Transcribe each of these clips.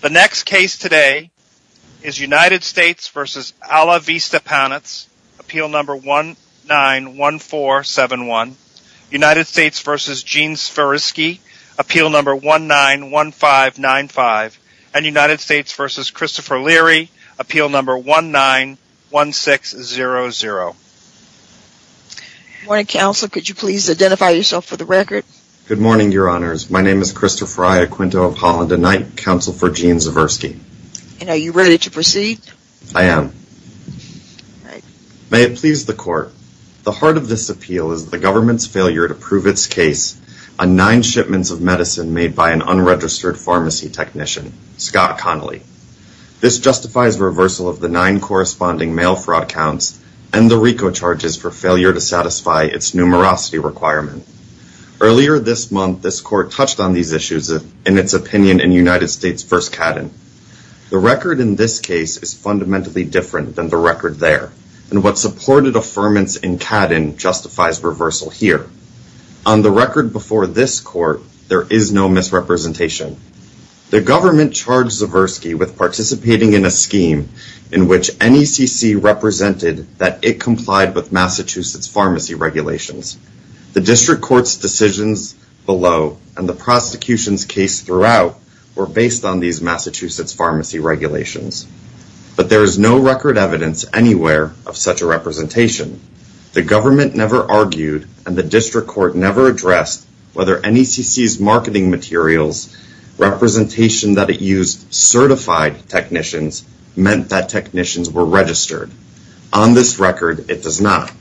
The next case today is United States v. Ala Vista Panets, appeal number 191471. United States v. Gene Swierski, appeal number 191595. United States v. Christopher Leary, appeal number 191600. Good morning, counsel. Could you please identify yourself for the record? Good morning, your honors. My name is Christopher Leary, and I acquinto of Holland a night, counsel for Gene Swierski. And are you ready to proceed? I am. May it please the court. The heart of this appeal is the government's failure to prove its case on nine shipments of medicine made by an unregistered pharmacy technician, Scott Connolly. This justifies reversal of the nine corresponding mail fraud counts and the RICO charges for failure to satisfy its numerosity requirement. Earlier this month, this court touched on these issues in its opinion in United States v. Cadden. The record in this case is fundamentally different than the record there, and what supported affirmance in Cadden justifies reversal here. On the record before this court, there is no misrepresentation. The government charged Swierski with participating in a scheme in which NECC represented that it complied with Massachusetts pharmacy regulations. The district court's decisions below and the prosecution's case throughout were based on these Massachusetts pharmacy regulations. But there is no record evidence anywhere of such a representation. The government never argued and the district court never addressed whether NECC's marketing materials representation that it used certified technicians meant that technicians were registered. On this record, it does not.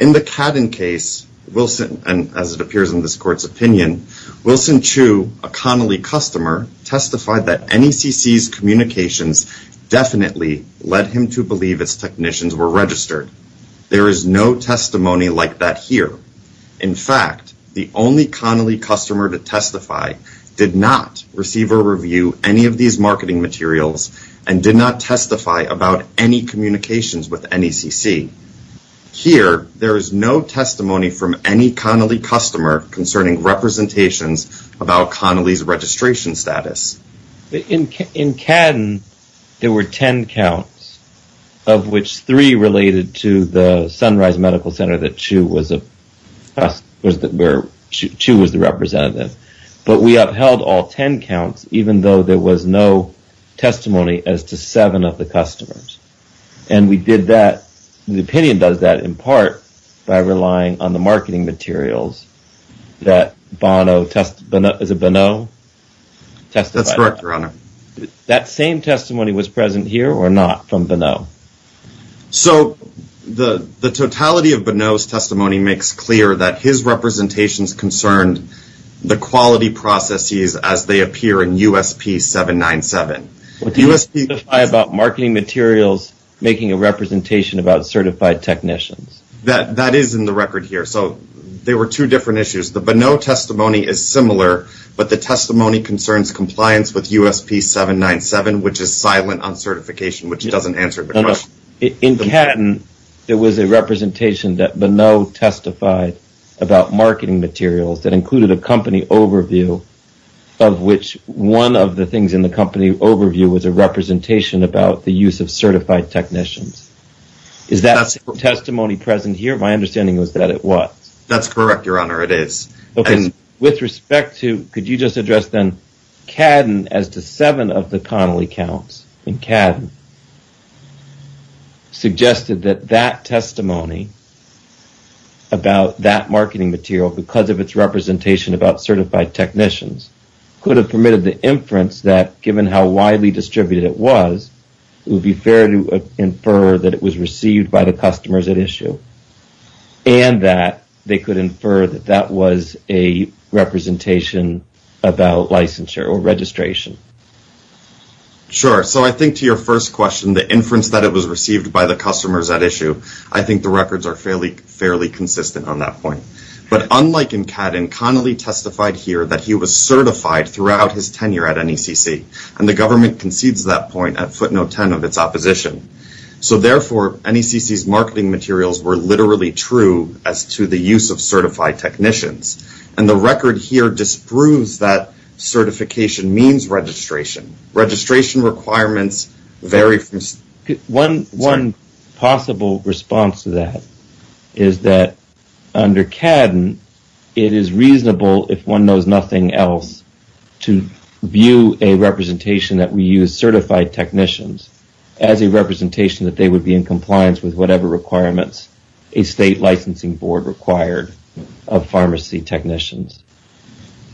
In the Cadden case, and as it appears in this court's opinion, Wilson Chu, a Connolly customer, testified that NECC's communications definitely led him to believe its technicians were registered. There is no testimony like that here. In fact, the only Connolly customer to testify did not receive or review any of these marketing materials. Here, there is no testimony from any Connolly customer concerning representations about Connolly's registration status. In Cadden, there were 10 counts, of which three related to the Sunrise Medical Center that Chu was the representative. But we upheld all 10 counts, even though there was no testimony as to seven of the customers. And we did that the opinion does that in part by relying on the marketing materials that Bono, is it Bono? That's correct, Your Honor. That same testimony was present here or not from Bono? So the totality of Bono's testimony makes clear that his representations concerned the quality processes as they appear in USP 797. But you testify about marketing materials making a representation about certified technicians? That is in the record here. So there were two different issues. The Bono testimony is similar, but the testimony concerns compliance with USP 797, which is silent on certification, which doesn't answer the question. In Cadden, there was a representation that Bono testified about marketing materials that included a company overview, of which one of the things in the company overview was a representation about the use of certified technicians. Is that testimony present here? My understanding was that it was. That's correct, Your Honor, it is. With respect to, could you just address then Cadden as to seven of the Connolly counts in Cadden, suggested that that testimony about that marketing material, because of its representation about certified technicians, could have permitted the inference that given how widely distributed it was, it would be fair to infer that it was received by the customers at issue, and that they could infer that that was a representation about licensure or registration. Sure. So I think to your first question, the inference that it was received by the customers at issue, I think the records are fairly consistent on that point. But unlike in Cadden, Connolly testified here that he was certified throughout his tenure at NECC, and the government concedes that point at footnote 10 of its opposition. So therefore, NECC's marketing materials were literally true as to the use of certified technicians, and the record here disproves that certification means registration. Registration requirements vary from... One possible response to that is that under NECC, there is nothing else to view a representation that we use certified technicians as a representation that they would be in compliance with whatever requirements a state licensing board required of pharmacy technicians.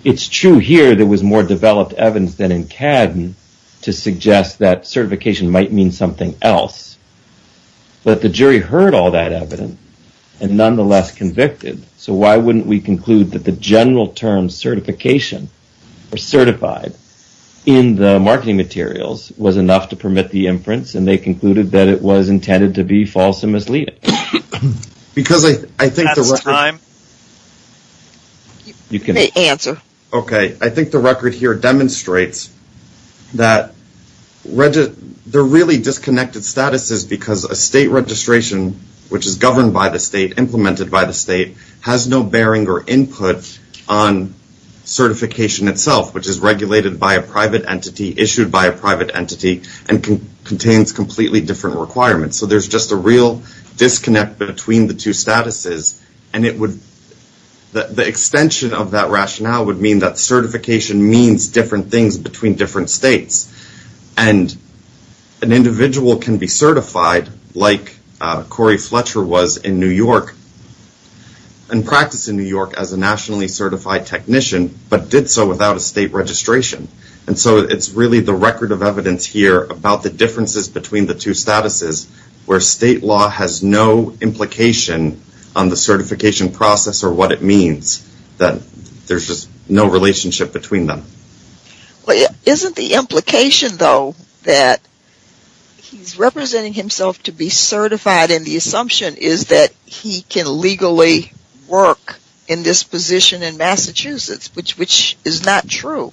It's true here there was more developed evidence than in Cadden to suggest that certification might mean something else, but the jury heard all that evidence and nonetheless convicted. So why wouldn't we conclude that the general term certification or certified in the marketing materials was enough to permit the inference, and they concluded that it was intended to be false and misleading? Because I think... That's time. You can answer. Okay. I think the record here demonstrates that they're really disconnected statuses because a state registration, which is governed by the state, implemented by the state, has no bearing or input on certification itself, which is regulated by a private entity, issued by a private entity, and contains completely different requirements. So there's just a real disconnect between the two statuses, and it would... The extension of that rationale would mean that certification means different things between different states, and an individual can be certified like Corey in New York, and practice in New York as a nationally certified technician, but did so without a state registration. And so it's really the record of evidence here about the differences between the two statuses where state law has no implication on the certification process or what it means, that there's just no relationship between them. Well, isn't the implication, though, that he's representing himself to be certified and the assumption is that he can legally work in this position in Massachusetts, which is not true.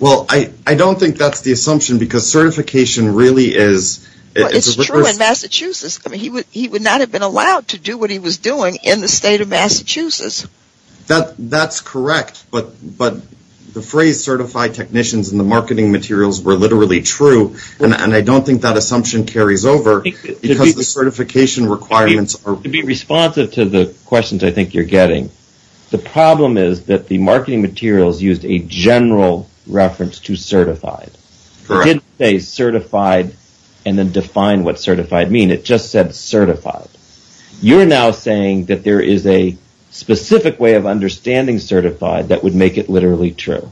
Well, I don't think that's the assumption because certification really is... It's true in Massachusetts. He would not have been allowed to do what he was doing in the state of Massachusetts. That's correct, but the phrase certified technicians and the marketing materials were literally true, and I don't think that assumption carries over because the certification requirements are... To be responsive to the questions I think you're getting, the problem is that the marketing materials used a general reference to certified. Correct. It didn't say certified and then define what certified means. It just said certified. You're now saying that there is a specific way of understanding certified that would make it literally true,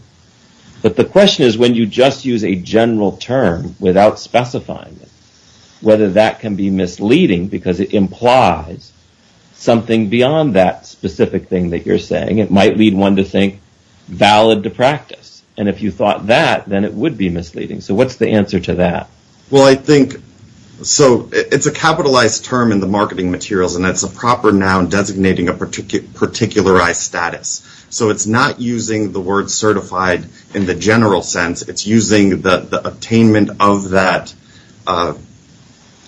but the question is when you just use a general term without specifying it, whether that can be misleading because it implies something beyond that specific thing that you're saying. It might lead one to think valid to practice, and if you thought that, then it would be misleading, so what's the answer to that? Well, I think it's a capitalized term in the marketing materials, and that's a proper noun designating a particularized status, so it's not using the word certified in the general sense. It's using the attainment of that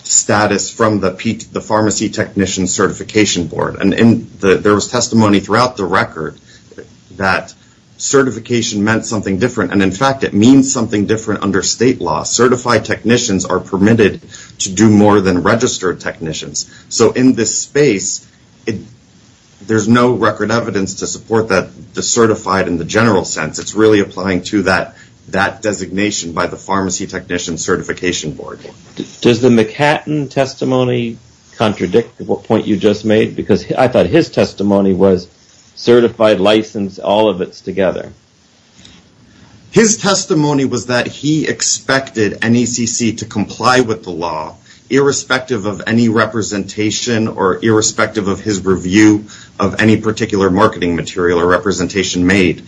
status from the pharmacy technician certification board, and there was testimony throughout the record that certification meant something different, and in fact, it means something different under state law. Certified technicians are permitted to do more than registered technicians, so in this space, there's no record evidence to support the certified in the general sense. It's really applying to that designation by the pharmacy technician certification board. Does the McHatton testimony contradict the point you just made? Because I thought his testimony was certified, licensed, all of it's together. His testimony was that he expected NECC to comply with the law irrespective of any representation or irrespective of his review of any particular marketing material or representation made.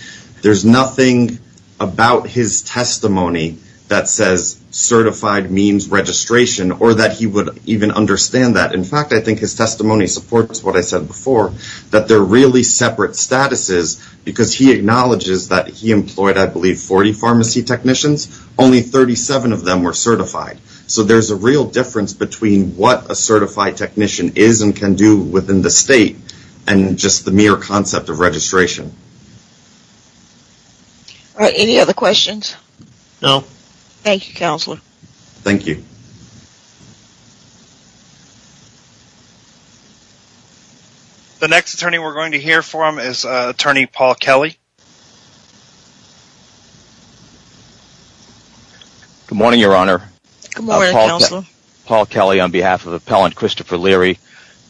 There's nothing about his testimony that says certified means registration or that he would even understand that. In fact, I think his testimony supports what I said before, that they're really separate statuses because he acknowledges that he employed, I believe, 40 pharmacy technicians. Only 37 of them were certified, so there's a real difference between what a certified technician is and can do within the state and just the mere concept of registration. Any other questions? No. Thank you, Counselor. Thank you. The next attorney we're going to hear from is Attorney Paul Kelly. Good morning, Your Honor. Good morning, Counselor. Paul Kelly on behalf of Appellant Christopher Leary.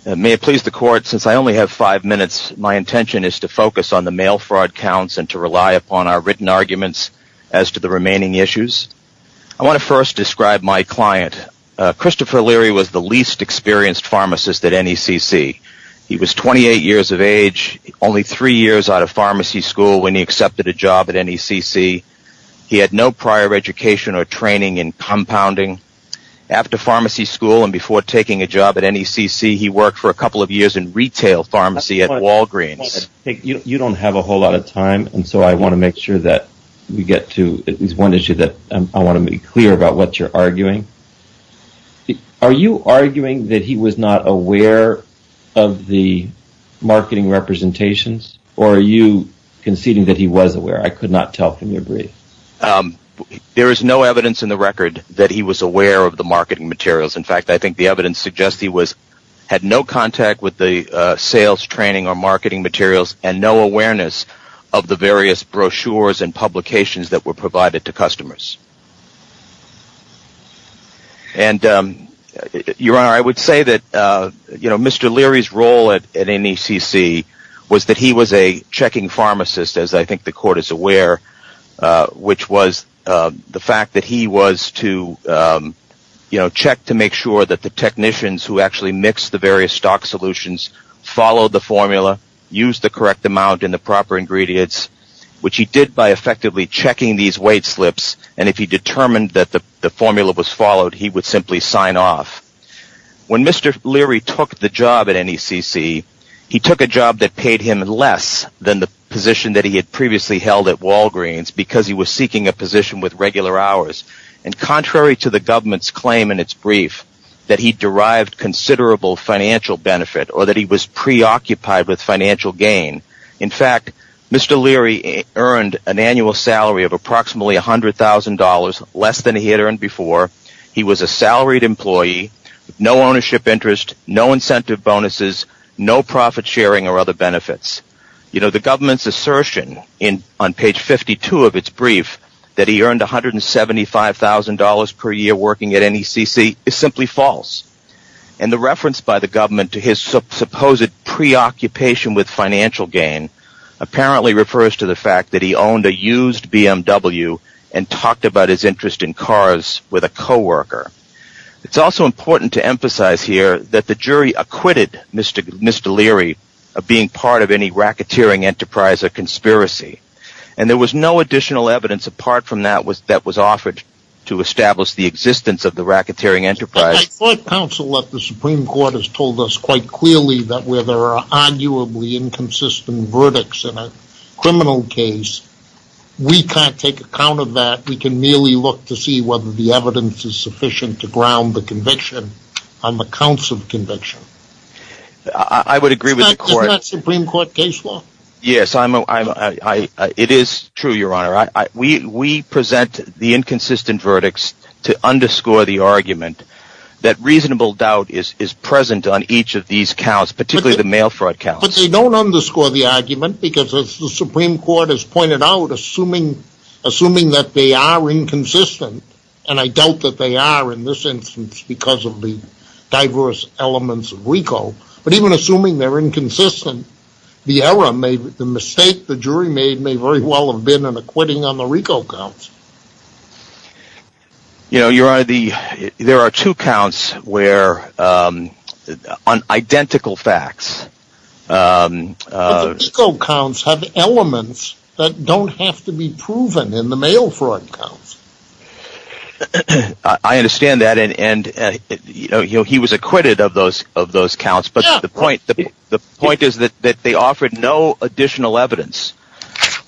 May it please the Court, since I only have five minutes, my intention is to focus on the mail fraud counts and to rely upon our written arguments as to the remaining issues. I want to first describe my client. Christopher Leary was the least experienced pharmacist at NECC. He was 28 years of age, only three years out of pharmacy school when he accepted a job at NECC. He had no prior education or training in compounding. After pharmacy school and before taking a job at NECC, he worked for a couple of years in retail pharmacy at Walgreens. You don't have a whole lot of time, and so I want to make sure that we get to at least one issue that I want to be clear about what you're arguing. Are you arguing that he was not aware of the marketing representations, or are you conceding that he was aware? I could not tell from your brief. There is no evidence in the record that he was aware of the marketing materials. In fact, I think the evidence suggests he had no contact with the sales training or marketing materials, and no awareness of the various brochures and publications that were provided to customers. Your Honor, I would say that Mr. Leary's role at NECC was that he was a checking pharmacist, as I think the court is aware, which was the fact that he was to check to make sure that the technicians who actually mixed the various stock solutions followed the formula, used the correct amount and the proper ingredients, which he did by effectively checking these weight slips, and if he determined that the formula was followed, he would simply sign off. When Mr. Leary took the job at NECC, he took a job that paid him less than the position that he had previously held at Walgreens because he was seeking a position with regular hours, and contrary to the government's claim in its brief that he derived considerable financial benefit or that he was preoccupied with financial gain, in fact, Mr. Leary earned an annual salary of approximately $100,000, less than he had earned before. He was a salaried employee with no ownership interest, no incentive bonuses, no profit sharing or other benefits. The government's assertion on page 52 of its brief that he earned $175,000 per year working at NECC is simply false, and the reference by the government to his supposed preoccupation with financial gain apparently refers to the fact that he owned a used BMW and talked about his interest in cars with a coworker. It's also important to emphasize here that the jury acquitted Mr. Leary of being part of any racketeering enterprise or conspiracy, and there was no additional evidence apart from that that was offered to establish the existence of the racketeering enterprise. I thought counsel at the Supreme Court has told us quite clearly that where there are arguably inconsistent verdicts in a criminal case, we can't take account of that, we can only look to see whether the evidence is sufficient to ground the conviction on the counts of conviction. I would agree with the court. Isn't that Supreme Court case law? Yes, it is true, Your Honor. We present the inconsistent verdicts to underscore the argument that reasonable doubt is present on each of these counts, particularly the mail fraud counts. But they don't underscore the argument because, as the Supreme Court has pointed out, assuming that they are inconsistent, and I doubt that they are in this instance because of the diverse elements of RICO, but even assuming they're inconsistent, the error made, the mistake the jury made may very well have been an acquitting on the RICO counts. You know, Your Honor, there are two counts where on identical facts... RICO counts have elements that don't have to be proven in the mail fraud counts. I understand that and he was acquitted of those counts, but the point is that they offered no additional evidence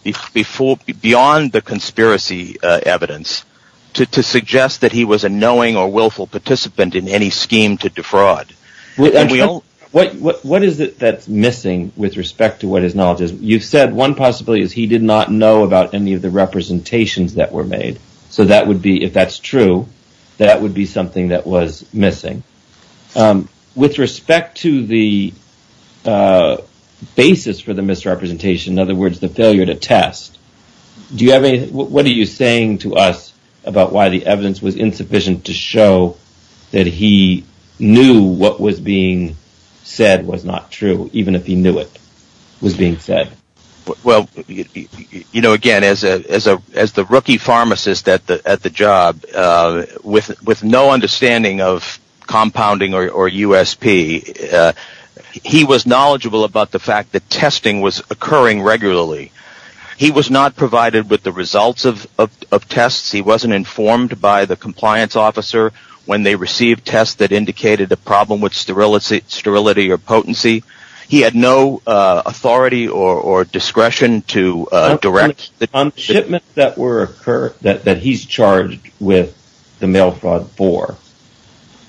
beyond the conspiracy evidence to suggest that he was a knowing or willful participant in any scheme to defraud. What is it that's missing with respect to what his knowledge is? You've said one possibility is he did not know about any of the representations that were made, so if that's true, that would be something that was missing. With respect to the basis for the misrepresentation, in other words, the failure to test, what are you saying to us about why the evidence was insufficient to show that he knew what was being said was not true, even if he knew it was being said? Well, you know, again, as the rookie pharmacist at the job, with no understanding of compounding or USP, he was knowledgeable about the fact that testing was occurring regularly. He was not provided with the results of tests. He wasn't informed by the compliance officer when they received tests that indicated a problem with sterility or potency. He had no authority or discretion to direct the... On the shipments that he's charged with the mail fraud for,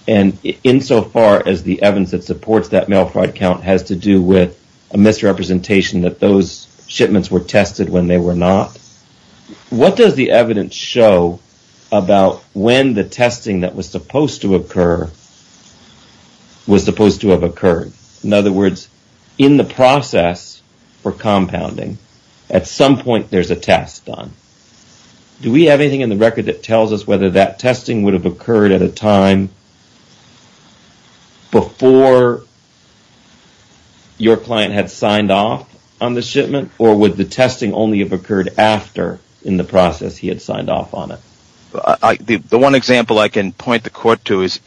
and insofar as the evidence that supports that mail fraud count has to do with a misrepresentation that those shipments were tested when they were not, what does the evidence show about when the testing that was supposed to occur was supposed to have occurred? In other words, in the process for compounding, at some point there's a test done. Do we have anything in the record that tells us whether that testing would have occurred at a time before your client had signed off on the shipment, or would the testing only have occurred after, in the process he had signed off on it? The one example I can point the court to is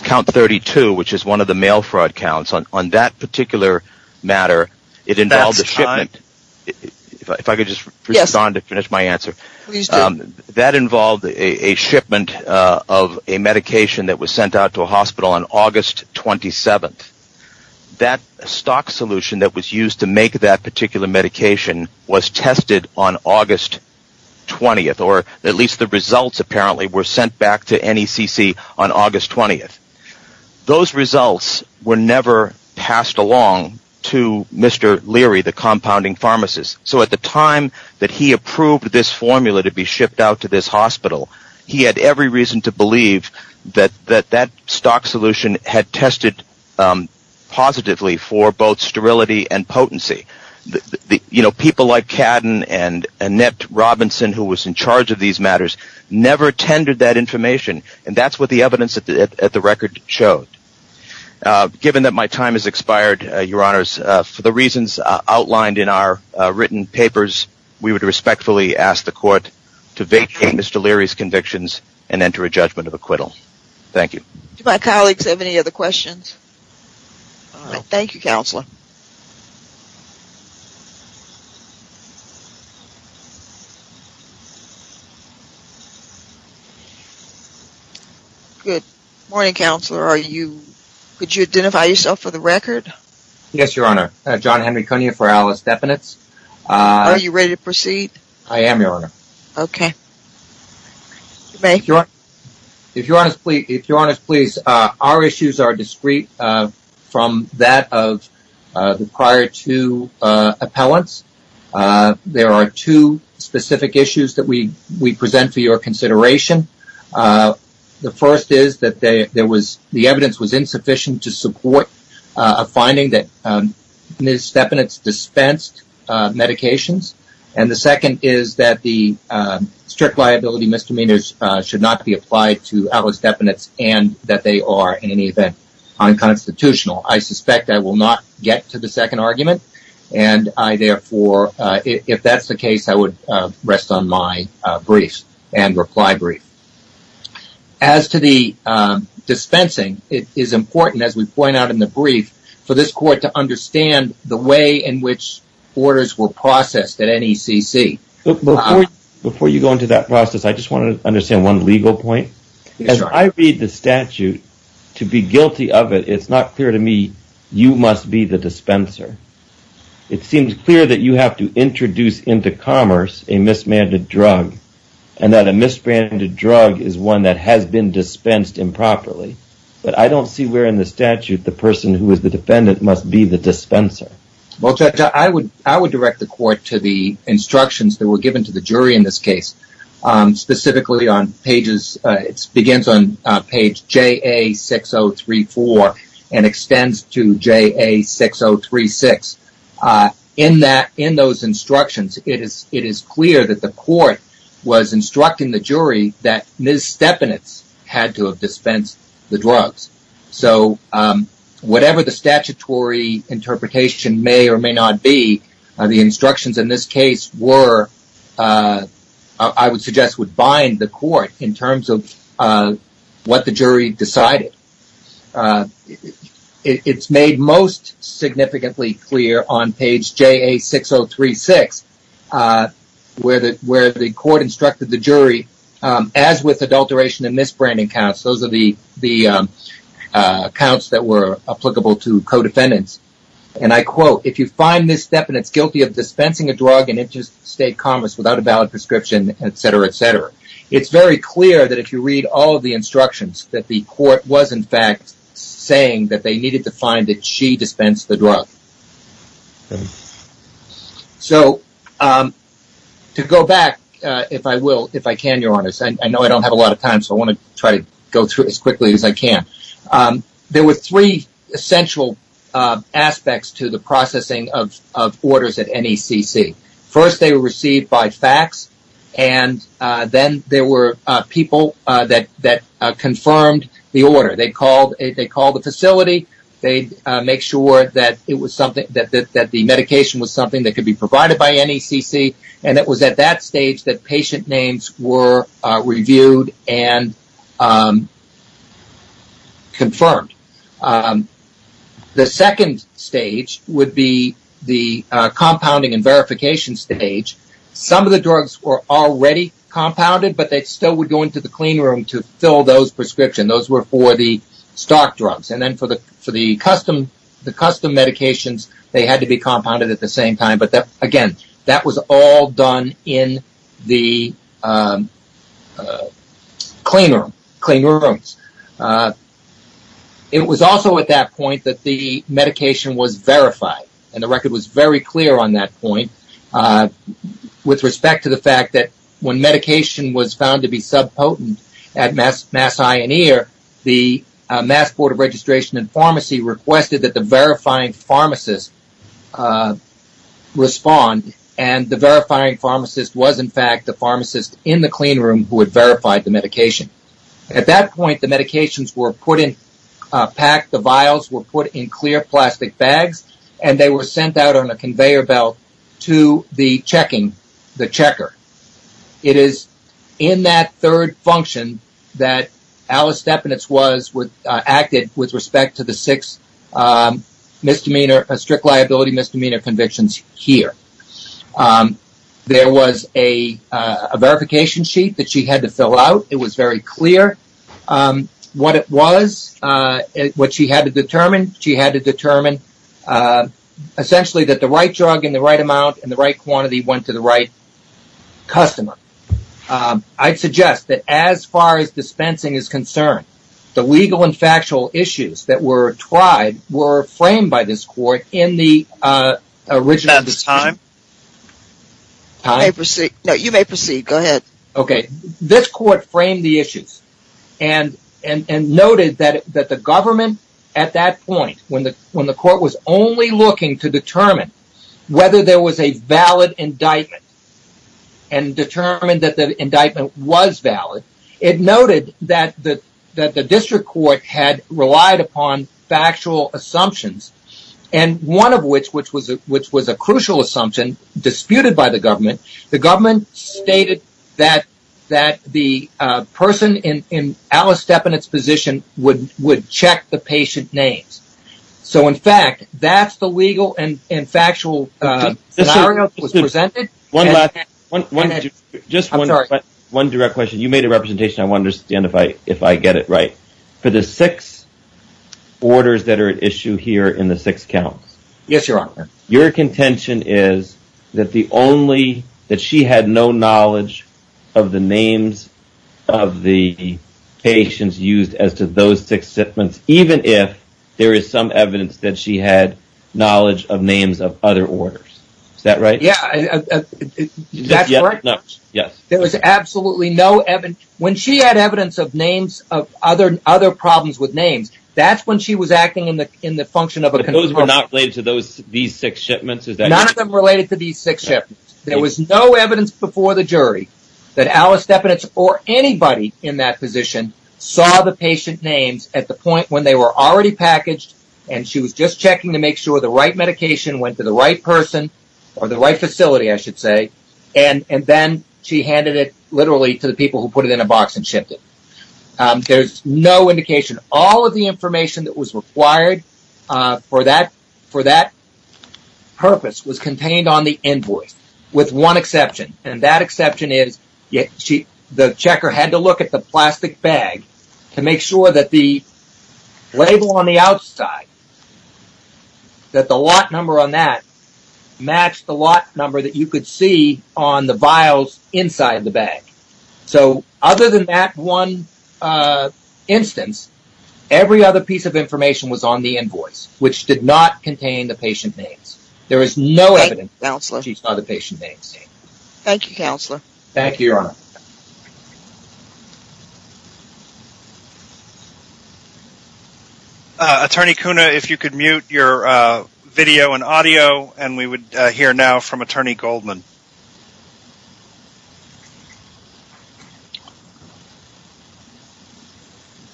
count 32, which is one of the mail fraud counts. On that particular matter, it involves a shipment. If I could just respond to finish my answer. That involved a shipment of a medication that was sent out to a hospital on August 27th. That stock solution that was used to make that particular medication was tested on August 20th, or at least the results apparently were sent back to NECC on August 20th. Those results were never passed along to Mr. Leary, the compounding pharmacist. So at the time that he approved this formula to be shipped out to this hospital, he had every reason to believe that that stock solution had tested positively for both sterility and potency. People like Cadden and Annette Robinson, who was in charge of these matters, never attended that information, and that's what the evidence at the record showed. Given that my time has expired, your honors, for the reasons outlined in our written papers, we would respectfully ask the court to vacate Mr. Leary's convictions and enter a judgment of acquittal. Thank you. Do my colleagues have any other questions? Thank you, Counselor. Good morning, Counselor. Could you identify yourself for the record? Yes, your honor. John Henry Cunia for Alice Definites. Are you ready to proceed? I am, your honor. Okay. If your honors please, our issues are discreet from that of the prior two appellants. There are two specific issues that we present for your consideration. The first is that the evidence was insufficient to support a finding that Ms. Definites dispensed medications, and the second is that the strict liability misdemeanors should not be applied to Alice Definites and that they are, in any event, unconstitutional. I suspect I will not get to the second argument, and I therefore, if that's the case, I would rest on my brief and reply brief. As to the dispensing, it is important, as we point out in the brief, for this court to understand the way in which orders were processed at NECC. Before you go into that process, I just want to understand one legal point. Yes, your honor. As I read the statute, to be guilty of it, it's not clear to me you must be the dispenser. It seems clear that you have to introduce into commerce a mismanded drug and that a mismanded drug is one that has been dispensed improperly, but I don't see where in the statute the person who is the defendant must be the dispenser. Judge, I would direct the court to the instructions that were given to the jury in this case. Specifically, it begins on page JA6034 and extends to JA6036. In those instructions, it is clear that the court was instructing the jury that Ms. Definites had to have dispensed the drugs. So, whatever the statutory interpretation may or may not be, the instructions in this case, I would suggest, would bind the court in terms of what the jury decided. It's made most significantly clear on page JA6036 where the court instructed the jury, as with adulteration and misbranding counts, those are the counts that were applicable to co-defendants. I quote, if you find Ms. Definites guilty of dispensing a drug in interstate commerce without a valid prescription, etc., etc., it's very clear that if you read all of the instructions that the court was, in fact, saying that they needed to find that she dispensed the drug. So, to go back, if I can, Your Honor, I know I don't have a lot of time, so I want to try to go through as quickly as I can. There were three essential aspects to the processing of orders at NECC. First, they were received by fax, and then there were people that confirmed the order. They called the facility, they made sure that the medication was something that could be provided by NECC, and it was at that stage that patient names were reviewed and confirmed. The second stage would be the compounding and verification stage. Some of the drugs were already compounded, but they still would go into the clean room to fill those prescriptions. Those were for the stock drugs, and then for the custom medications, they had to be compounded at the same time, but again, that was all done in the clean rooms. It was also at that point that the medication was verified, and the record was very clear on that point with respect to the fact that when medication was found to be subpotent at Mass Eye and Ear, the Mass Board of Registration and Pharmacy requested that the verifying pharmacist respond, and the verifying pharmacist was in fact the pharmacist in the clean room who had verified the medication. At that point, the medications were packed, the vials were put in clear plastic bags, and they were sent out on a conveyor belt to the checking, the checker. It is in that third function that Alice Stepanitz acted with respect to the six strict liability misdemeanor convictions here. There was a verification sheet that she had to fill out. It was very clear what it was, what she had to determine. She had to determine essentially that the right drug in the right amount in the right quantity went to the right customer. I'd suggest that as far as dispensing is concerned, the legal and factual issues that were tried were framed by this court in the original decision. About the time? Time? You may proceed. Go ahead. Okay. This court framed the issues and noted that the government at that point, when the court was only looking to determine whether there was a valid indictment and determined that the indictment was valid, it noted that the district court had relied upon factual assumptions. One of which was a crucial assumption disputed by the government. The government stated that the person in Alice Stepanitz's position would check the patient names. In fact, that's the legal and factual scenario that was presented. Just one direct question. You made a representation. I want to understand if I get it right. For the six orders that are at issue here in the six counts, your contention is that the only, that she had no knowledge of the names of the patients used as to those six There is some evidence that she had knowledge of names of other orders. Is that right? Yeah. Is that correct? No. Yes. There was absolutely no evidence. When she had evidence of names of other problems with names, that's when she was acting in the function of a control. But those were not related to these six shipments? None of them related to these six shipments. There was no evidence before the jury that Alice Stepanitz or anybody in that position saw the patient names at the point when they were already packaged and she was just checking to make sure the right medication went to the right person or the right facility, I should say, and then she handed it literally to the people who put it in a box and shipped it. There's no indication. All of the information that was required for that purpose was contained on the invoice with one exception. And that exception is the checker had to look at the plastic bag to make sure that the label on the outside, that the lot number on that matched the lot number that you could see on the vials inside the bag. So other than that one instance, every other piece of information was on the invoice, which did not contain the patient names. There is no evidence that she saw the patient names. Thank you, Counselor. Thank you, Your Honor. Attorney Kuna, if you could mute your video and audio and we would hear now from Attorney Goldman.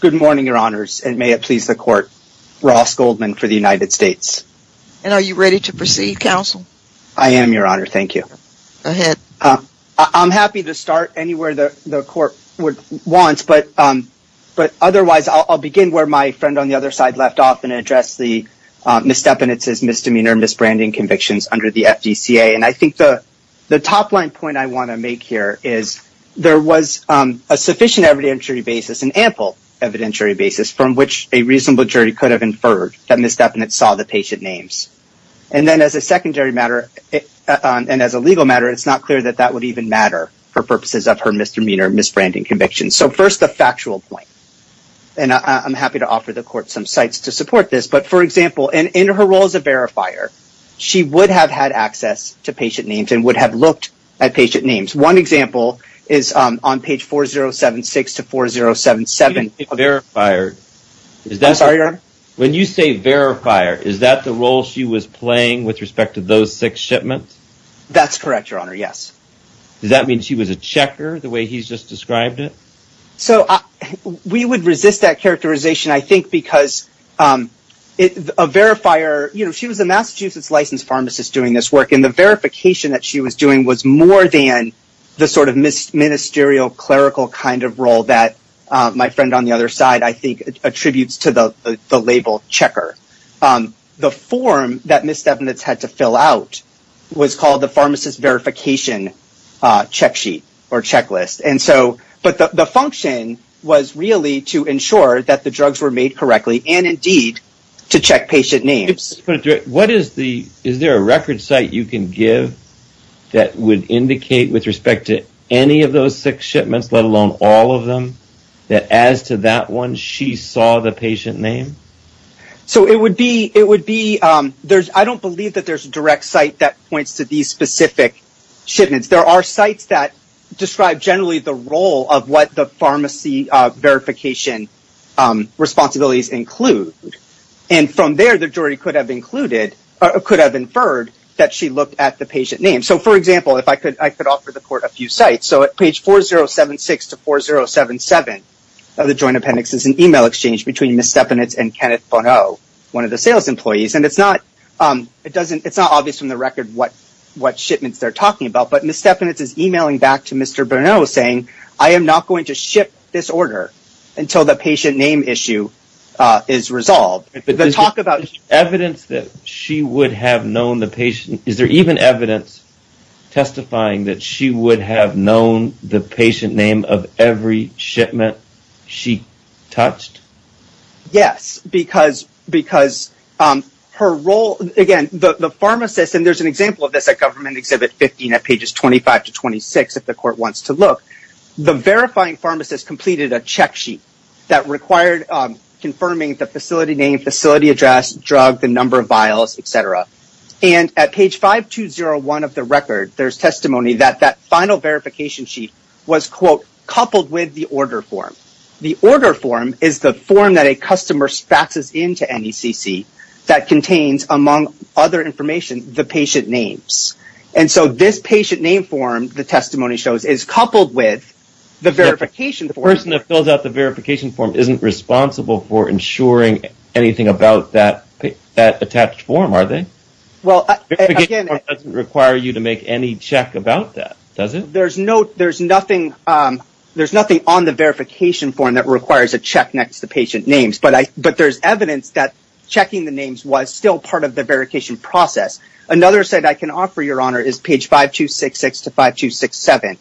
Good morning, Your Honors, and may it please the Court. Ross Goldman for the United States. And are you ready to proceed, Counsel? I am, Your Honor. Thank you. Go ahead. I'm happy to start anywhere the Court wants, but otherwise I'll begin where my friend on the other side left off and address the misdemeanors, misbranding convictions under the FDCA. And I think the top line point I want to make here is there was a sufficient evidentiary basis, an ample evidentiary basis from which a reasonable jury could have inferred that misdemeanors saw the patient names. And then as a secondary matter, and as a legal matter, it's not clear that that would even matter for purposes of her misdemeanor misbranding convictions. So first, the factual point. And I'm happy to offer the Court some sites to support this. But for example, in her role as a verifier, she would have had access to patient names and would have looked at patient names. One example is on page 4076 to 4077. When you say verifier, is that the role she was playing with respect to those six shipments? That's correct, Your Honor. Yes. Does that mean she was a checker the way he's just described it? So we would resist that characterization, I think, because a verifier, you know, she was a Massachusetts licensed pharmacist doing this work. And the verification that she was doing was more than the sort of ministerial clerical kind of role that my friend on the other side, I think, attributes to the label checker. The form that misdemeanors had to fill out was called the pharmacist verification check sheet or checklist. And so, but the function was really to ensure that the drugs were made correctly and indeed to check patient names. What is the, is there a record site you can give that would indicate with respect to any of those six shipments, let alone all of them, that as to that one, she saw the patient name? So it would be, it would be, there's, I don't believe that there's a direct site that points to these specific shipments. There are sites that describe generally the role of what the pharmacy verification responsibilities include. And from there, the jury could have included or could have inferred that she looked at the patient name. So for example, if I could, I could offer the court a few sites. So at page 4076 to 4077 of the joint appendix is an email exchange between Ms. Steffanitz and Kenneth Bonneau, one of the sales employees. And it's not, it doesn't, it's not obvious from the record what shipments they're talking about, but Ms. Steffanitz is emailing back to Mr. Bonneau saying, I am not going to ship this order until the patient name issue is resolved. Evidence that she would have known the patient, is there even evidence testifying that she would have known the patient name of every shipment she touched? Yes, because, because her role, again, the pharmacist, and there's an example of this at government exhibit 15 at pages 25 to 26, if the court wants to look, the verifying pharmacist completed a check sheet that required confirming the facility name, facility address, drug, the number of vials, et cetera. And at page 5201 of the record, there's testimony that that final verification sheet was, quote, coupled with the order form. The order form is the form that a customer faxes into NECC that contains, among other information, the patient names. And so this patient name form, the testimony shows, is coupled with the verification form. The person that fills out the verification form isn't responsible for ensuring anything about that attached form, are they? Well, again... The verification form doesn't require you to make any check about that, does it? There's nothing on the verification form that requires a check next to patient names, but there's evidence that checking the names was still part of the verification process. Another site I can offer, Your Honor, is page 5266 to 5267.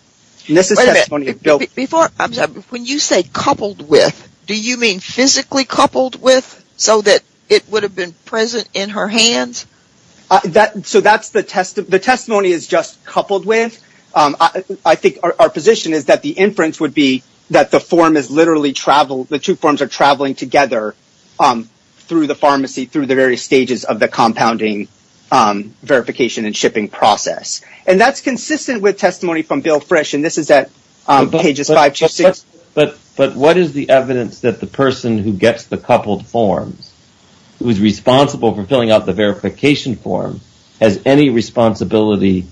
Wait a minute. When you say coupled with, do you mean physically coupled with so that it would have been present in her hands? So that's the testimony. The testimony is just coupled with. I think our position is that the inference would be that the form is literally traveled, the two forms are traveling together through the pharmacy, through the various stages of the compounding verification and shipping process. And that's consistent with testimony from Bill Frisch, and this is at pages 5266. But what is the evidence that the person who gets the coupled forms, who is responsible for filling out the verification form, has any responsibility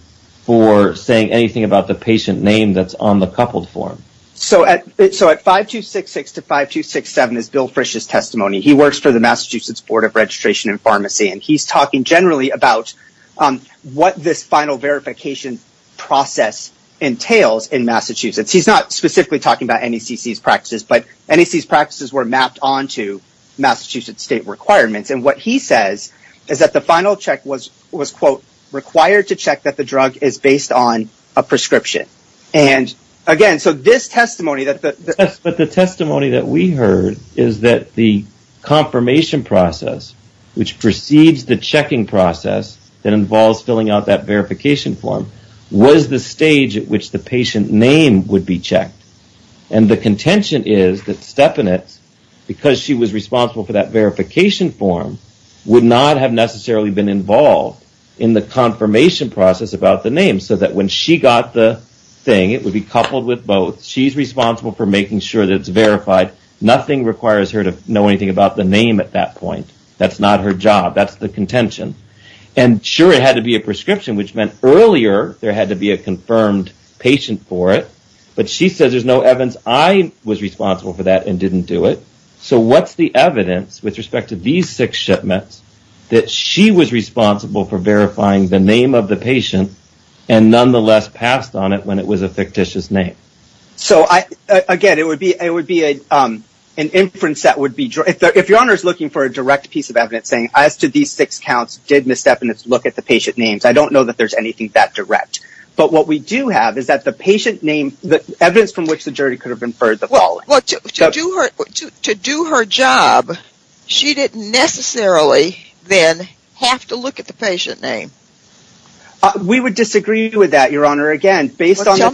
for saying anything about the patient name that's on the coupled form? So at 5266 to 5267 is Bill Frisch's testimony. He works for the Massachusetts Board of Registration and Pharmacy, and he's talking generally about what this final verification process entails in Massachusetts. He's not specifically talking about NACC's practices, but NACC's practices were mapped onto Massachusetts state requirements. And what he says is that the final check was, quote, required to check that the drug is based on a prescription. And again, so this testimony that the... Yes, but the testimony that we heard is that the confirmation process, which precedes the checking process that involves filling out that verification form, was the stage at which the patient name would be checked. And the contention is that Stepanitz, because she was responsible for that verification form, would not have necessarily been involved in the confirmation process about the name so that when she got the thing, it would be coupled with both. She's responsible for making sure that it's verified. Nothing requires her to know anything about the name at that point. That's not her job. That's the contention. And sure, it had to be a prescription, which meant earlier there had to be a confirmed patient for it. But she says there's no evidence I was responsible for that and didn't do it. So what's the evidence with respect to these six shipments that she was responsible for and nonetheless passed on it when it was a fictitious name? So, again, it would be an inference that would be... If Your Honor is looking for a direct piece of evidence saying, as to these six counts, did Ms. Stepanitz look at the patient names, I don't know that there's anything that direct. But what we do have is that the patient name, the evidence from which the jury could have inferred the following... Well, to do her job, she didn't necessarily then have to look at the patient name. We would disagree with that, Your Honor. Again, based on the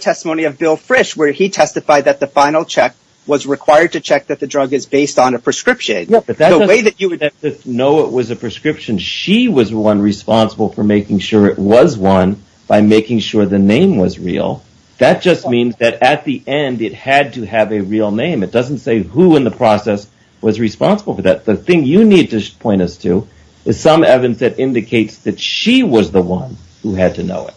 testimony of Bill Frisch, where he testified that the final check was required to check that the drug is based on a prescription. The way that you would know it was a prescription, she was the one responsible for making sure it was one by making sure the name was real. That just means that at the end, it had to have a real name. It doesn't say who in the process was responsible for that. The thing you need to point us to is some evidence that indicates that she was the one who had to know it.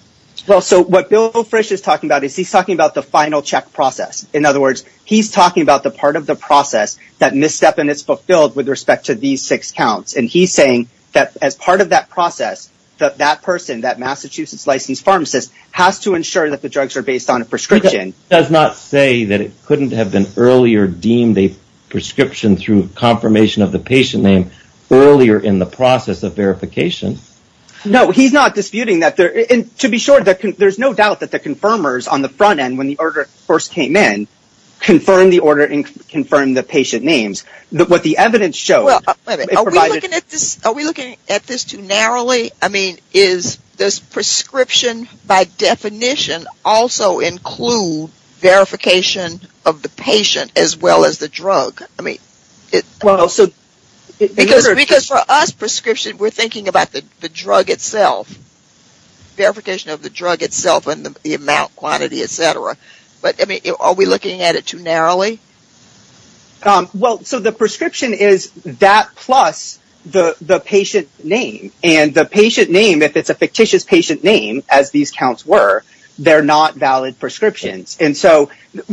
Well, so what Bill Frisch is talking about is he's talking about the final check process. In other words, he's talking about the part of the process that Ms. Stepanitz fulfilled with respect to these six counts. And he's saying that as part of that process, that that person, that Massachusetts-licensed pharmacist, has to ensure that the drugs are based on a prescription. It does not say that it couldn't have been earlier deemed a prescription through confirmation of the patient name earlier in the process of verification. No, he's not disputing that. To be sure, there's no doubt that the confirmers on the front end, when the order first came in, confirmed the order and confirmed the patient names. What the evidence shows... Are we looking at this too narrowly? I mean, does prescription by definition also include verification of the patient as well as the drug? Well, so... Because for us, prescription, we're thinking about the drug itself. Verification of the drug itself and the amount, quantity, etc. But, I mean, are we looking at it too narrowly? Well, so the prescription is that plus the patient name. And the patient name, if it's a fictitious patient name, as these counts were, they're not valid prescriptions. And so,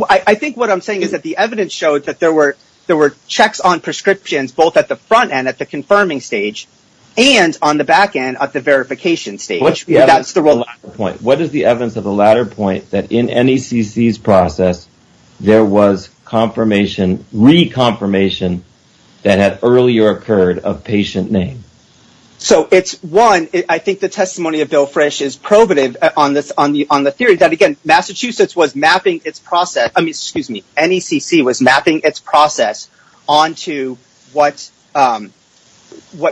I think what I'm saying is that the evidence showed that there were checks on prescriptions both at the front end, at the confirming stage, and on the back end at the verification stage. What is the evidence of the latter point, that in NECC's process, there was confirmation, re-confirmation, that had earlier occurred of patient name? So, it's, one, I think the testimony of Bill Frisch is probative on the theory that, again, Massachusetts was mapping its process, I mean, excuse me, NECC was mapping its process onto what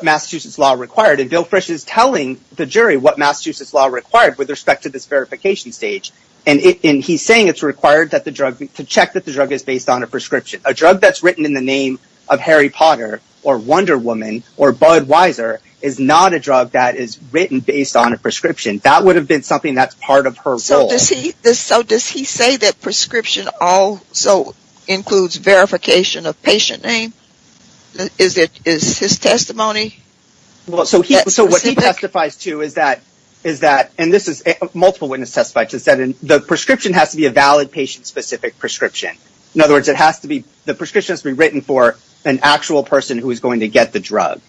Massachusetts law required. And Bill Frisch is telling the jury what Massachusetts law required with respect to this verification stage. And he's saying it's required to check that the drug is based on a prescription. A drug that's written in the name of Harry Potter, or Wonder Woman, or Budweiser, is not a drug that is written based on a prescription. That would have been something that's part of her role. So, does he say that prescription also includes verification of patient name? Is his testimony that specific? So, what he testifies to is that, and this is multiple witness testifies to this, is that the prescription has to be a valid patient-specific prescription. In other words, the prescription has to be written for an actual person who is going to get the drug.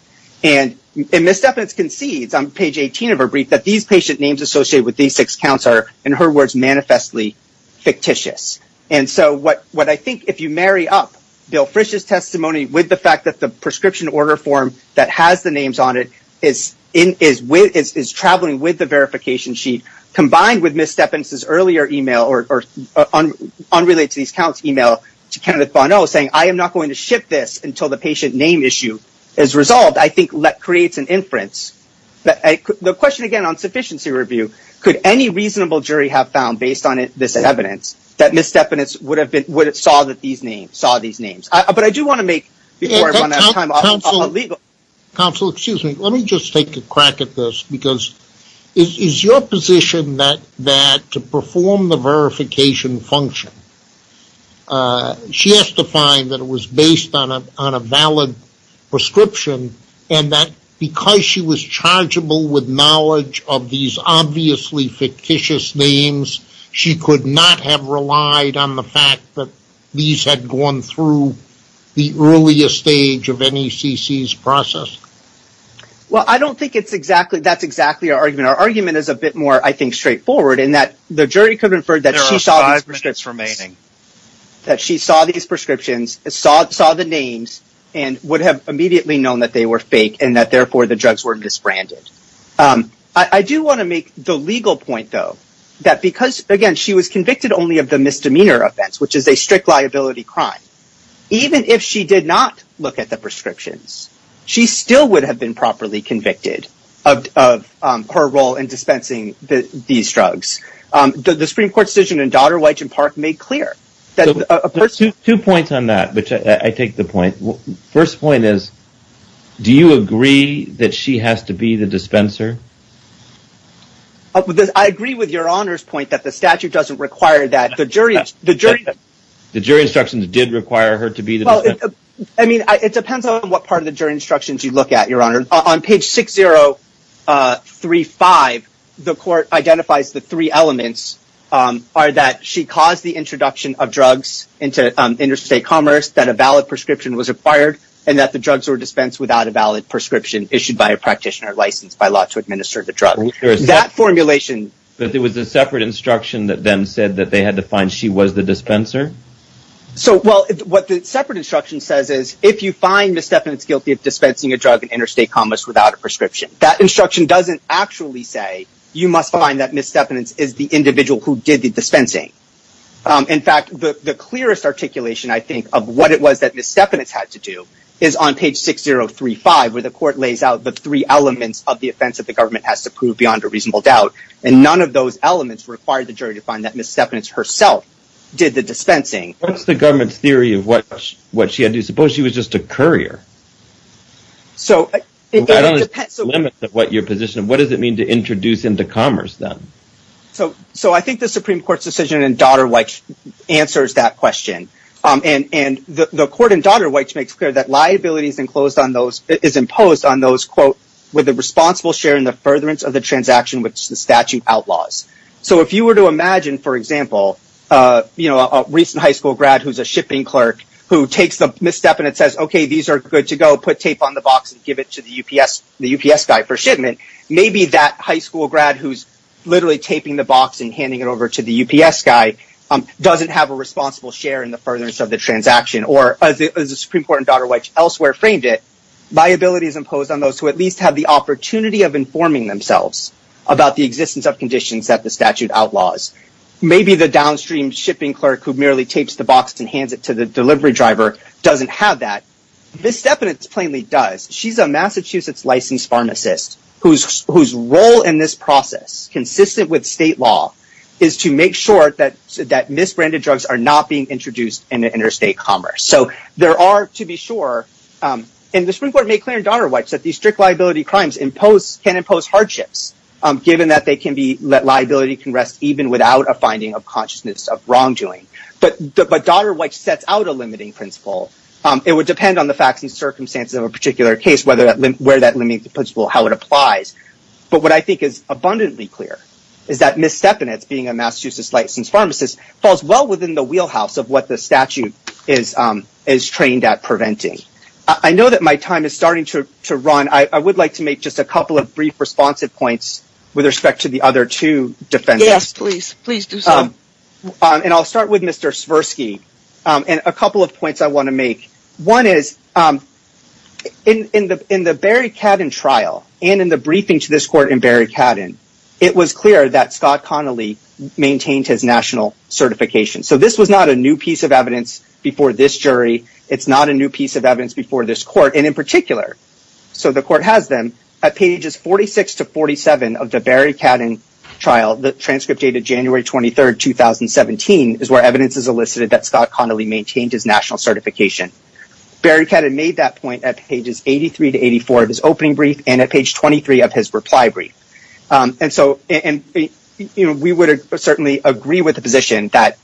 And Ms. Stephens concedes, on page 18 of her brief, that these patient names associated with these six counts are, in her words, manifestly fictitious. And so, what I think, if you marry up Bill Frisch's testimony with the fact that the prescription order form that has the names on it is traveling with the verification sheet, combined with Ms. Stephens' earlier email, or unrelated to these counts email, to Kenneth Bonneau, saying, I am not going to ship this until the patient name issue is resolved, I think creates an inference. The question, again, on sufficiency review, could any reasonable jury have found, based on this evidence, that Ms. Stephens saw these names? But I do want to make, before I run out of time, a legal... Counsel, excuse me, let me just take a crack at this, because is your position that to perform the verification function, she has to find that it was based on a valid prescription, and that because she was chargeable with knowledge of these obviously fictitious names, she could not have relied on the fact that these had gone through the earliest stage of NECC's process? Well, I don't think that's exactly our argument. Our argument is a bit more, I think, straightforward, in that the jury could have inferred that There are five minutes remaining. that they were fake, and that, therefore, the drugs were disbranded. I do want to make the legal point, though, that because, again, she was convicted only of the misdemeanor offense, which is a strict liability crime, even if she did not look at the prescriptions, she still would have been properly convicted of her role in dispensing these drugs. The Supreme Court decision in Dodd-Wyche and Park made clear that a person... I take the point. First point is, do you agree that she has to be the dispenser? I agree with Your Honor's point that the statute doesn't require that. The jury instructions did require her to be the dispenser. I mean, it depends on what part of the jury instructions you look at, Your Honor. On page 6035, the court identifies the three elements are that she caused the introduction of drugs into interstate commerce, that a valid prescription was required, and that the drugs were dispensed without a valid prescription issued by a practitioner licensed by law to administer the drug. That formulation... But there was a separate instruction that then said that they had to find she was the dispenser? So, well, what the separate instruction says is, if you find misdemeanors guilty of dispensing a drug in interstate commerce without a prescription, that instruction doesn't actually say you must find that misdemeanors is the individual who did the dispensing. In fact, the clearest articulation, I think, of what it was that misdemeanors had to do is on page 6035, where the court lays out the three elements of the offense that the government has to prove beyond a reasonable doubt. And none of those elements required the jury to find that misdemeanors herself did the dispensing. What's the government's theory of what she had to do? Suppose she was just a courier? So, it depends... I don't know the limits of what your position is. What does it mean to introduce into commerce, then? So, I think the Supreme Court's decision in Dodd-Weich answers that question. And the court in Dodd-Weich makes clear that liability is imposed on those with a responsible share in the furtherance of the transaction which the statute outlaws. So, if you were to imagine, for example, a recent high school grad who's a shipping clerk who takes the misstep and it says, okay, these are good to go. Put tape on the box and give it to the UPS guy for shipment. Maybe that high school grad who's literally taping the box and handing it over to the UPS guy doesn't have a responsible share in the furtherance of the transaction. Or, as the Supreme Court in Dodd-Weich elsewhere framed it, liability is imposed on those who at least have the opportunity of informing themselves about the existence of conditions that the statute outlaws. Maybe the downstream shipping clerk who merely tapes the box and hands it to the delivery driver doesn't have that. Misstep in it plainly does. She's a Massachusetts licensed pharmacist whose role in this process, consistent with state law, is to make sure that misbranded drugs are not being introduced into interstate commerce. So, there are, to be sure, and the Supreme Court made clear in Dodd-Weich that these strict liability crimes can impose hardships given that liability can rest even without a finding of consciousness of wrongdoing. But Dodd-Weich sets out a limiting principle. It would depend on the facts and circumstances of a particular case where that limiting principle, how it applies. But what I think is abundantly clear is that misstep in it, being a Massachusetts licensed pharmacist, falls well within the wheelhouse of what the statute is trained at preventing. I know that my time is starting to run. I would like to make just a couple of brief responsive points with respect to the other two defendants. Yes, please. Please do so. And I'll start with Mr. Svirsky. And a couple of points I want to make. One is, in the Barry Cadden trial, and in the briefing to this court in Barry Cadden, it was clear that Scott Connolly maintained his national certification. So, this was not a new piece of evidence before this jury. It's not a new piece of evidence before this court, and in particular, so the court has them, at pages 46 to 47 of the Barry Cadden trial, the transcript dated January 23, 2017, is where evidence is elicited that Scott Connolly maintained his national certification. Barry Cadden made that point at pages 83 to 84 of his opening brief, and at page 23 of his reply brief. And so, we would certainly agree with the position that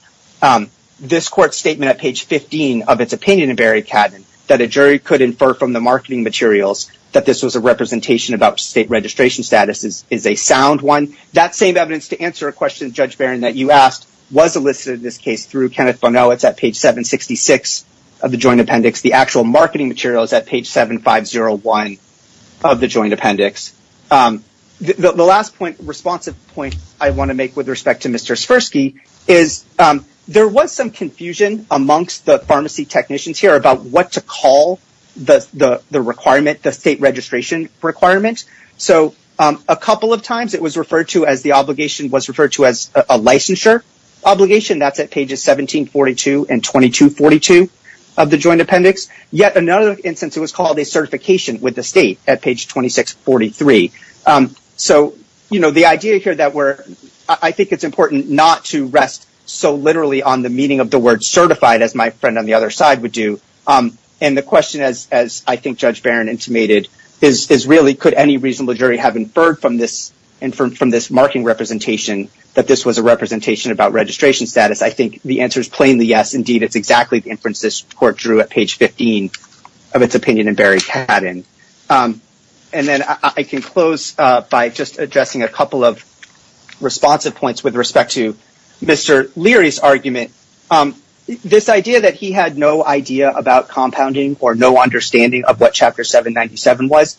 this court's statement at page 15 of its opinion in Barry Cadden, that a jury could infer from the marketing materials that this was a representation about state registration status is a sound one. That same evidence to answer a question, Judge Barron, that you asked was elicited in this case through Kenneth Bonowitz at page 766 of the joint appendix. The actual marketing material is at page 7501 of the joint appendix. The last responsive point I want to make with respect to Mr. Sfirsky is there was some confusion amongst the pharmacy technicians here about what to call the requirement, the state registration requirement. So, a couple of times it was referred to as the obligation was referred to as a licensure obligation. That's at pages 1742 and 2242 of the joint appendix. Yet another instance it was called a certification with the state at page 2643. So, the idea here that we're, I think it's important not to rest so literally on the meaning of the word certified as my friend on the other side would do. And the question as I think Judge Barron intimated is really could any reasonable jury have inferred from this marking representation that this was a representation about registration status. I think the answer is plainly yes. Indeed, it's exactly the inference this court drew at page 15 of its opinion in Barry Cadden. And then I can close by just addressing a couple of responsive points with respect to Mr. Leary's argument. This idea that he had no idea about compounding or no understanding of what chapter 797 was.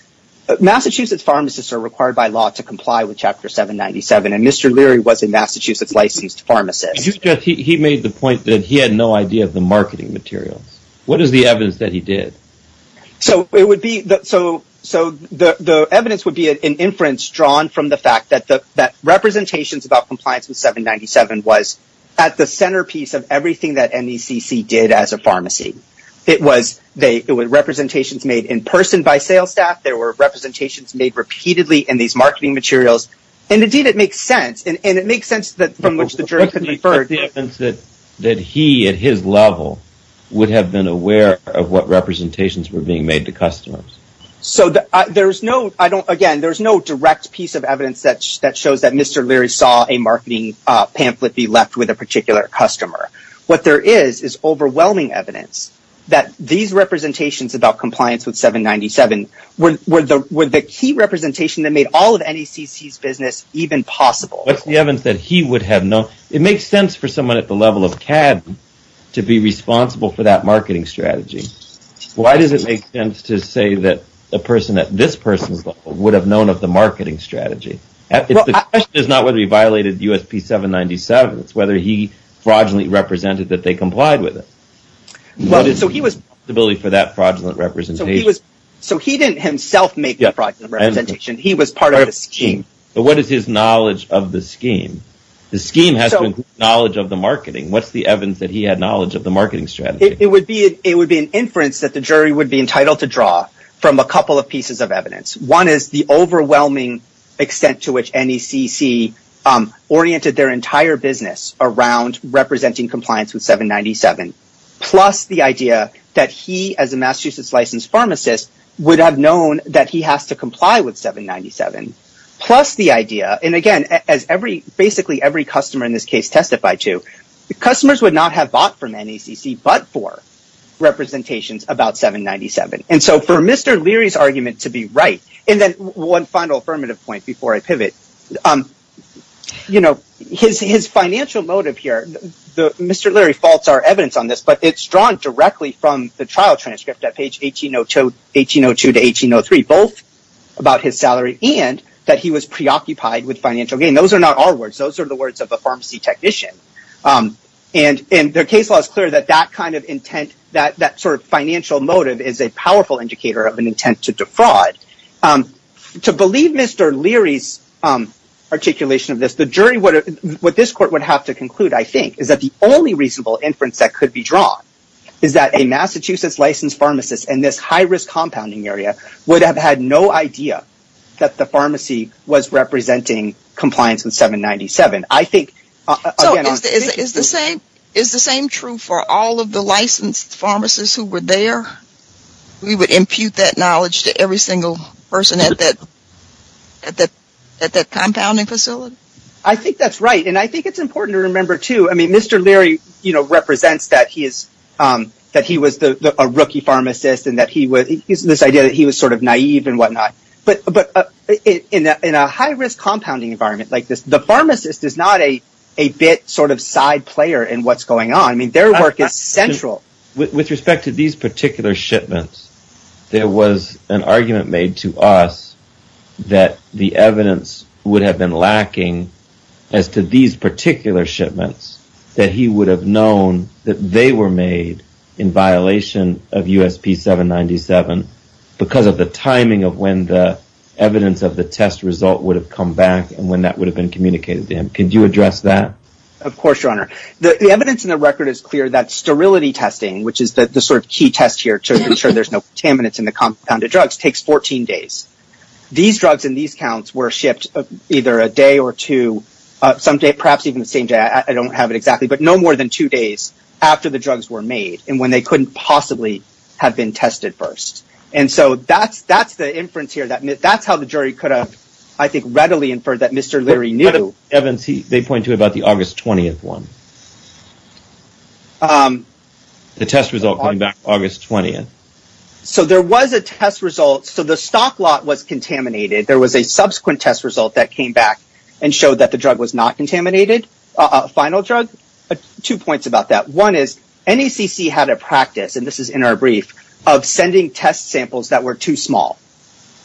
Massachusetts pharmacists are required by law to comply with chapter 797 and Mr. Leary was a Massachusetts licensed pharmacist. He made the point that he had no idea of the marketing materials. What is the evidence that he did? So, it would be the evidence would be an inference drawn from the fact that representations about compliance with 797 was at the centerpiece of everything that NECC did as a pharmacy. It was representations made in person by sales staff. There were representations made repeatedly in these marketing materials. And indeed it makes sense. And it makes sense from which the jury could infer. That he at his level would have been aware of what representations were being made to customers. Again, there is no direct piece of evidence that shows that Mr. Leary saw a marketing pamphlet be left with a particular customer. What there is, is overwhelming evidence that these representations about compliance with 797 were the key representation that made all of NECC's business even possible. What's the evidence that he would have known? It makes sense for someone at the level of CAD to be responsible for that marketing strategy. Why does it make sense to say that a person at this person's level would have known of the marketing strategy? The question is not whether he violated USP 797. It's whether he fraudulently represented that they complied with it. So he didn't himself make the fraudulent representation. He was part of the scheme. But what is his knowledge of the scheme? The scheme has to include knowledge of the marketing. What's the evidence that he had knowledge of the marketing strategy? It would be an inference that the jury would be entitled to draw from a couple of pieces of evidence. One is the overwhelming extent to which NECC oriented their entire business around representing compliance with 797. Plus the idea that he as a Massachusetts licensed pharmacist would have known that he has to comply with 797. Plus the idea, and again as basically every customer in this case testified to, customers would not have bought from NECC but for representations about 797. So for Mr. Leary's argument to be right, and then one final affirmative point before I pivot. His financial motive here, Mr. Leary faults our evidence on this, but it's drawn directly from the trial transcript at page 1802 to 1803. Both about his salary and that he was preoccupied with financial gain. Those are not our words. Those are the words of a pharmacy technician. Their case law is clear that that kind of intent, that sort of financial motive is a powerful indicator of an intent to defraud. To believe Mr. Leary's articulation of this, the jury, what this court would have to conclude, I think, is that the only reasonable inference that could be drawn is that a Massachusetts licensed pharmacist in this high risk compounding area would have had no idea that the pharmacy was representing compliance with 797. I think So is the same true for all of the licensed pharmacists who were there? We would impute that knowledge to every single person at that compounding facility? I think that's right and I think it's important to remember too, I mean, Mr. Leary represents that he was a rookie pharmacist and that he was, this idea that he was sort of naive and whatnot. But in a high risk compounding environment like this, the pharmacist is not a bit sort of side player in what's going on. I mean, their work is central. With respect to these particular shipments, there was an argument made to us that the evidence would have been lacking as to these particular shipments that he would have known USP 797 because of the timing of when the evidence of the test result would have come back and when that would have been communicated to him. Can you address that? Of course, Your Honor. The evidence in the record is clear that sterility testing, which is the sort of key test here to ensure there's no contaminants in the compounded drugs, takes 14 days. These drugs and these counts were shipped either a day or two, some day, perhaps even the same day, I don't have it exactly, but no more than two days after the drugs were made and when they couldn't possibly have been tested first. And so that's the inference here. That's how the jury could have, I think, readily inferred that Mr. Leary knew. What about the evidence they point to about the August 20th one? The test result coming back August 20th. So there was a test result. The stock lot was contaminated. There was a subsequent test result that came back and showed that the drug was not contaminated. A final drug. Two points about that. One is NACC had a practice, and this is in our brief, of sending test samples that were too small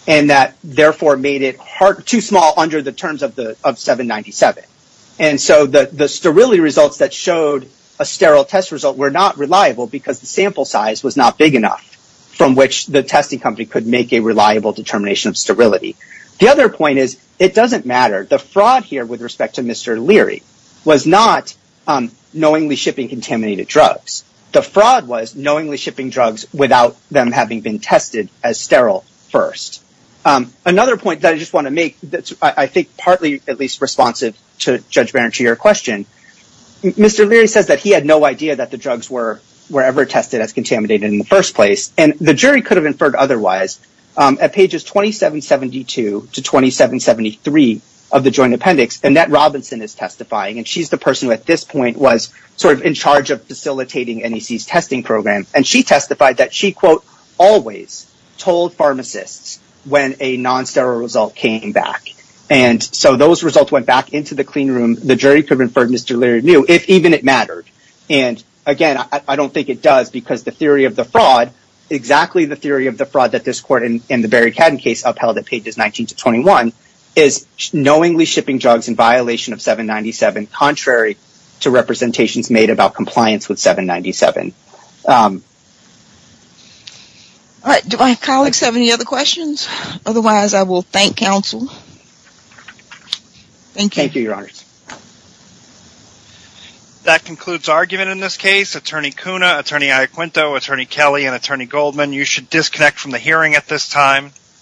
and that therefore made it too small under the terms of 797. And so the sterility results that showed a sterile test result were not reliable because the sample size was not big enough from which the testing company could make a reliable determination of sterility. The other point is it doesn't matter. The fraud here with respect to Mr. Leary was not knowingly shipping contaminated drugs. The fraud was knowingly shipping drugs without them having been tested as sterile first. Another point that I just want to make that's, I think, partly at least responsive to Judge Berenstein your question. Mr. Leary says that he had no idea that the drugs were ever tested as contaminated in the first place. And the jury could have inferred otherwise at pages 2772 to 2773 of the joint appendix. Annette Robinson is testifying. And she's the person who at this point was sort of in charge of facilitating NACC's testing program. And she testified that she quote, always told pharmacists when a non-sterile result came back. And so those results went back into the clean room. The jury could have inferred Mr. Leary knew if even it mattered. And again, I don't think it does because the theory of the fraud exactly the theory of the fraud that this court in the Barry is knowingly shipping drugs in violation of 797 contrary to representations made about compliance with 797. Do my colleagues have any other questions? Otherwise I will thank counsel. Thank you. Thank you, your honors. That concludes argument in this case. Attorney Cunha, Attorney Iacquinto, Attorney Kelly, and Attorney Goldman, you should disconnect from the hearing at this time.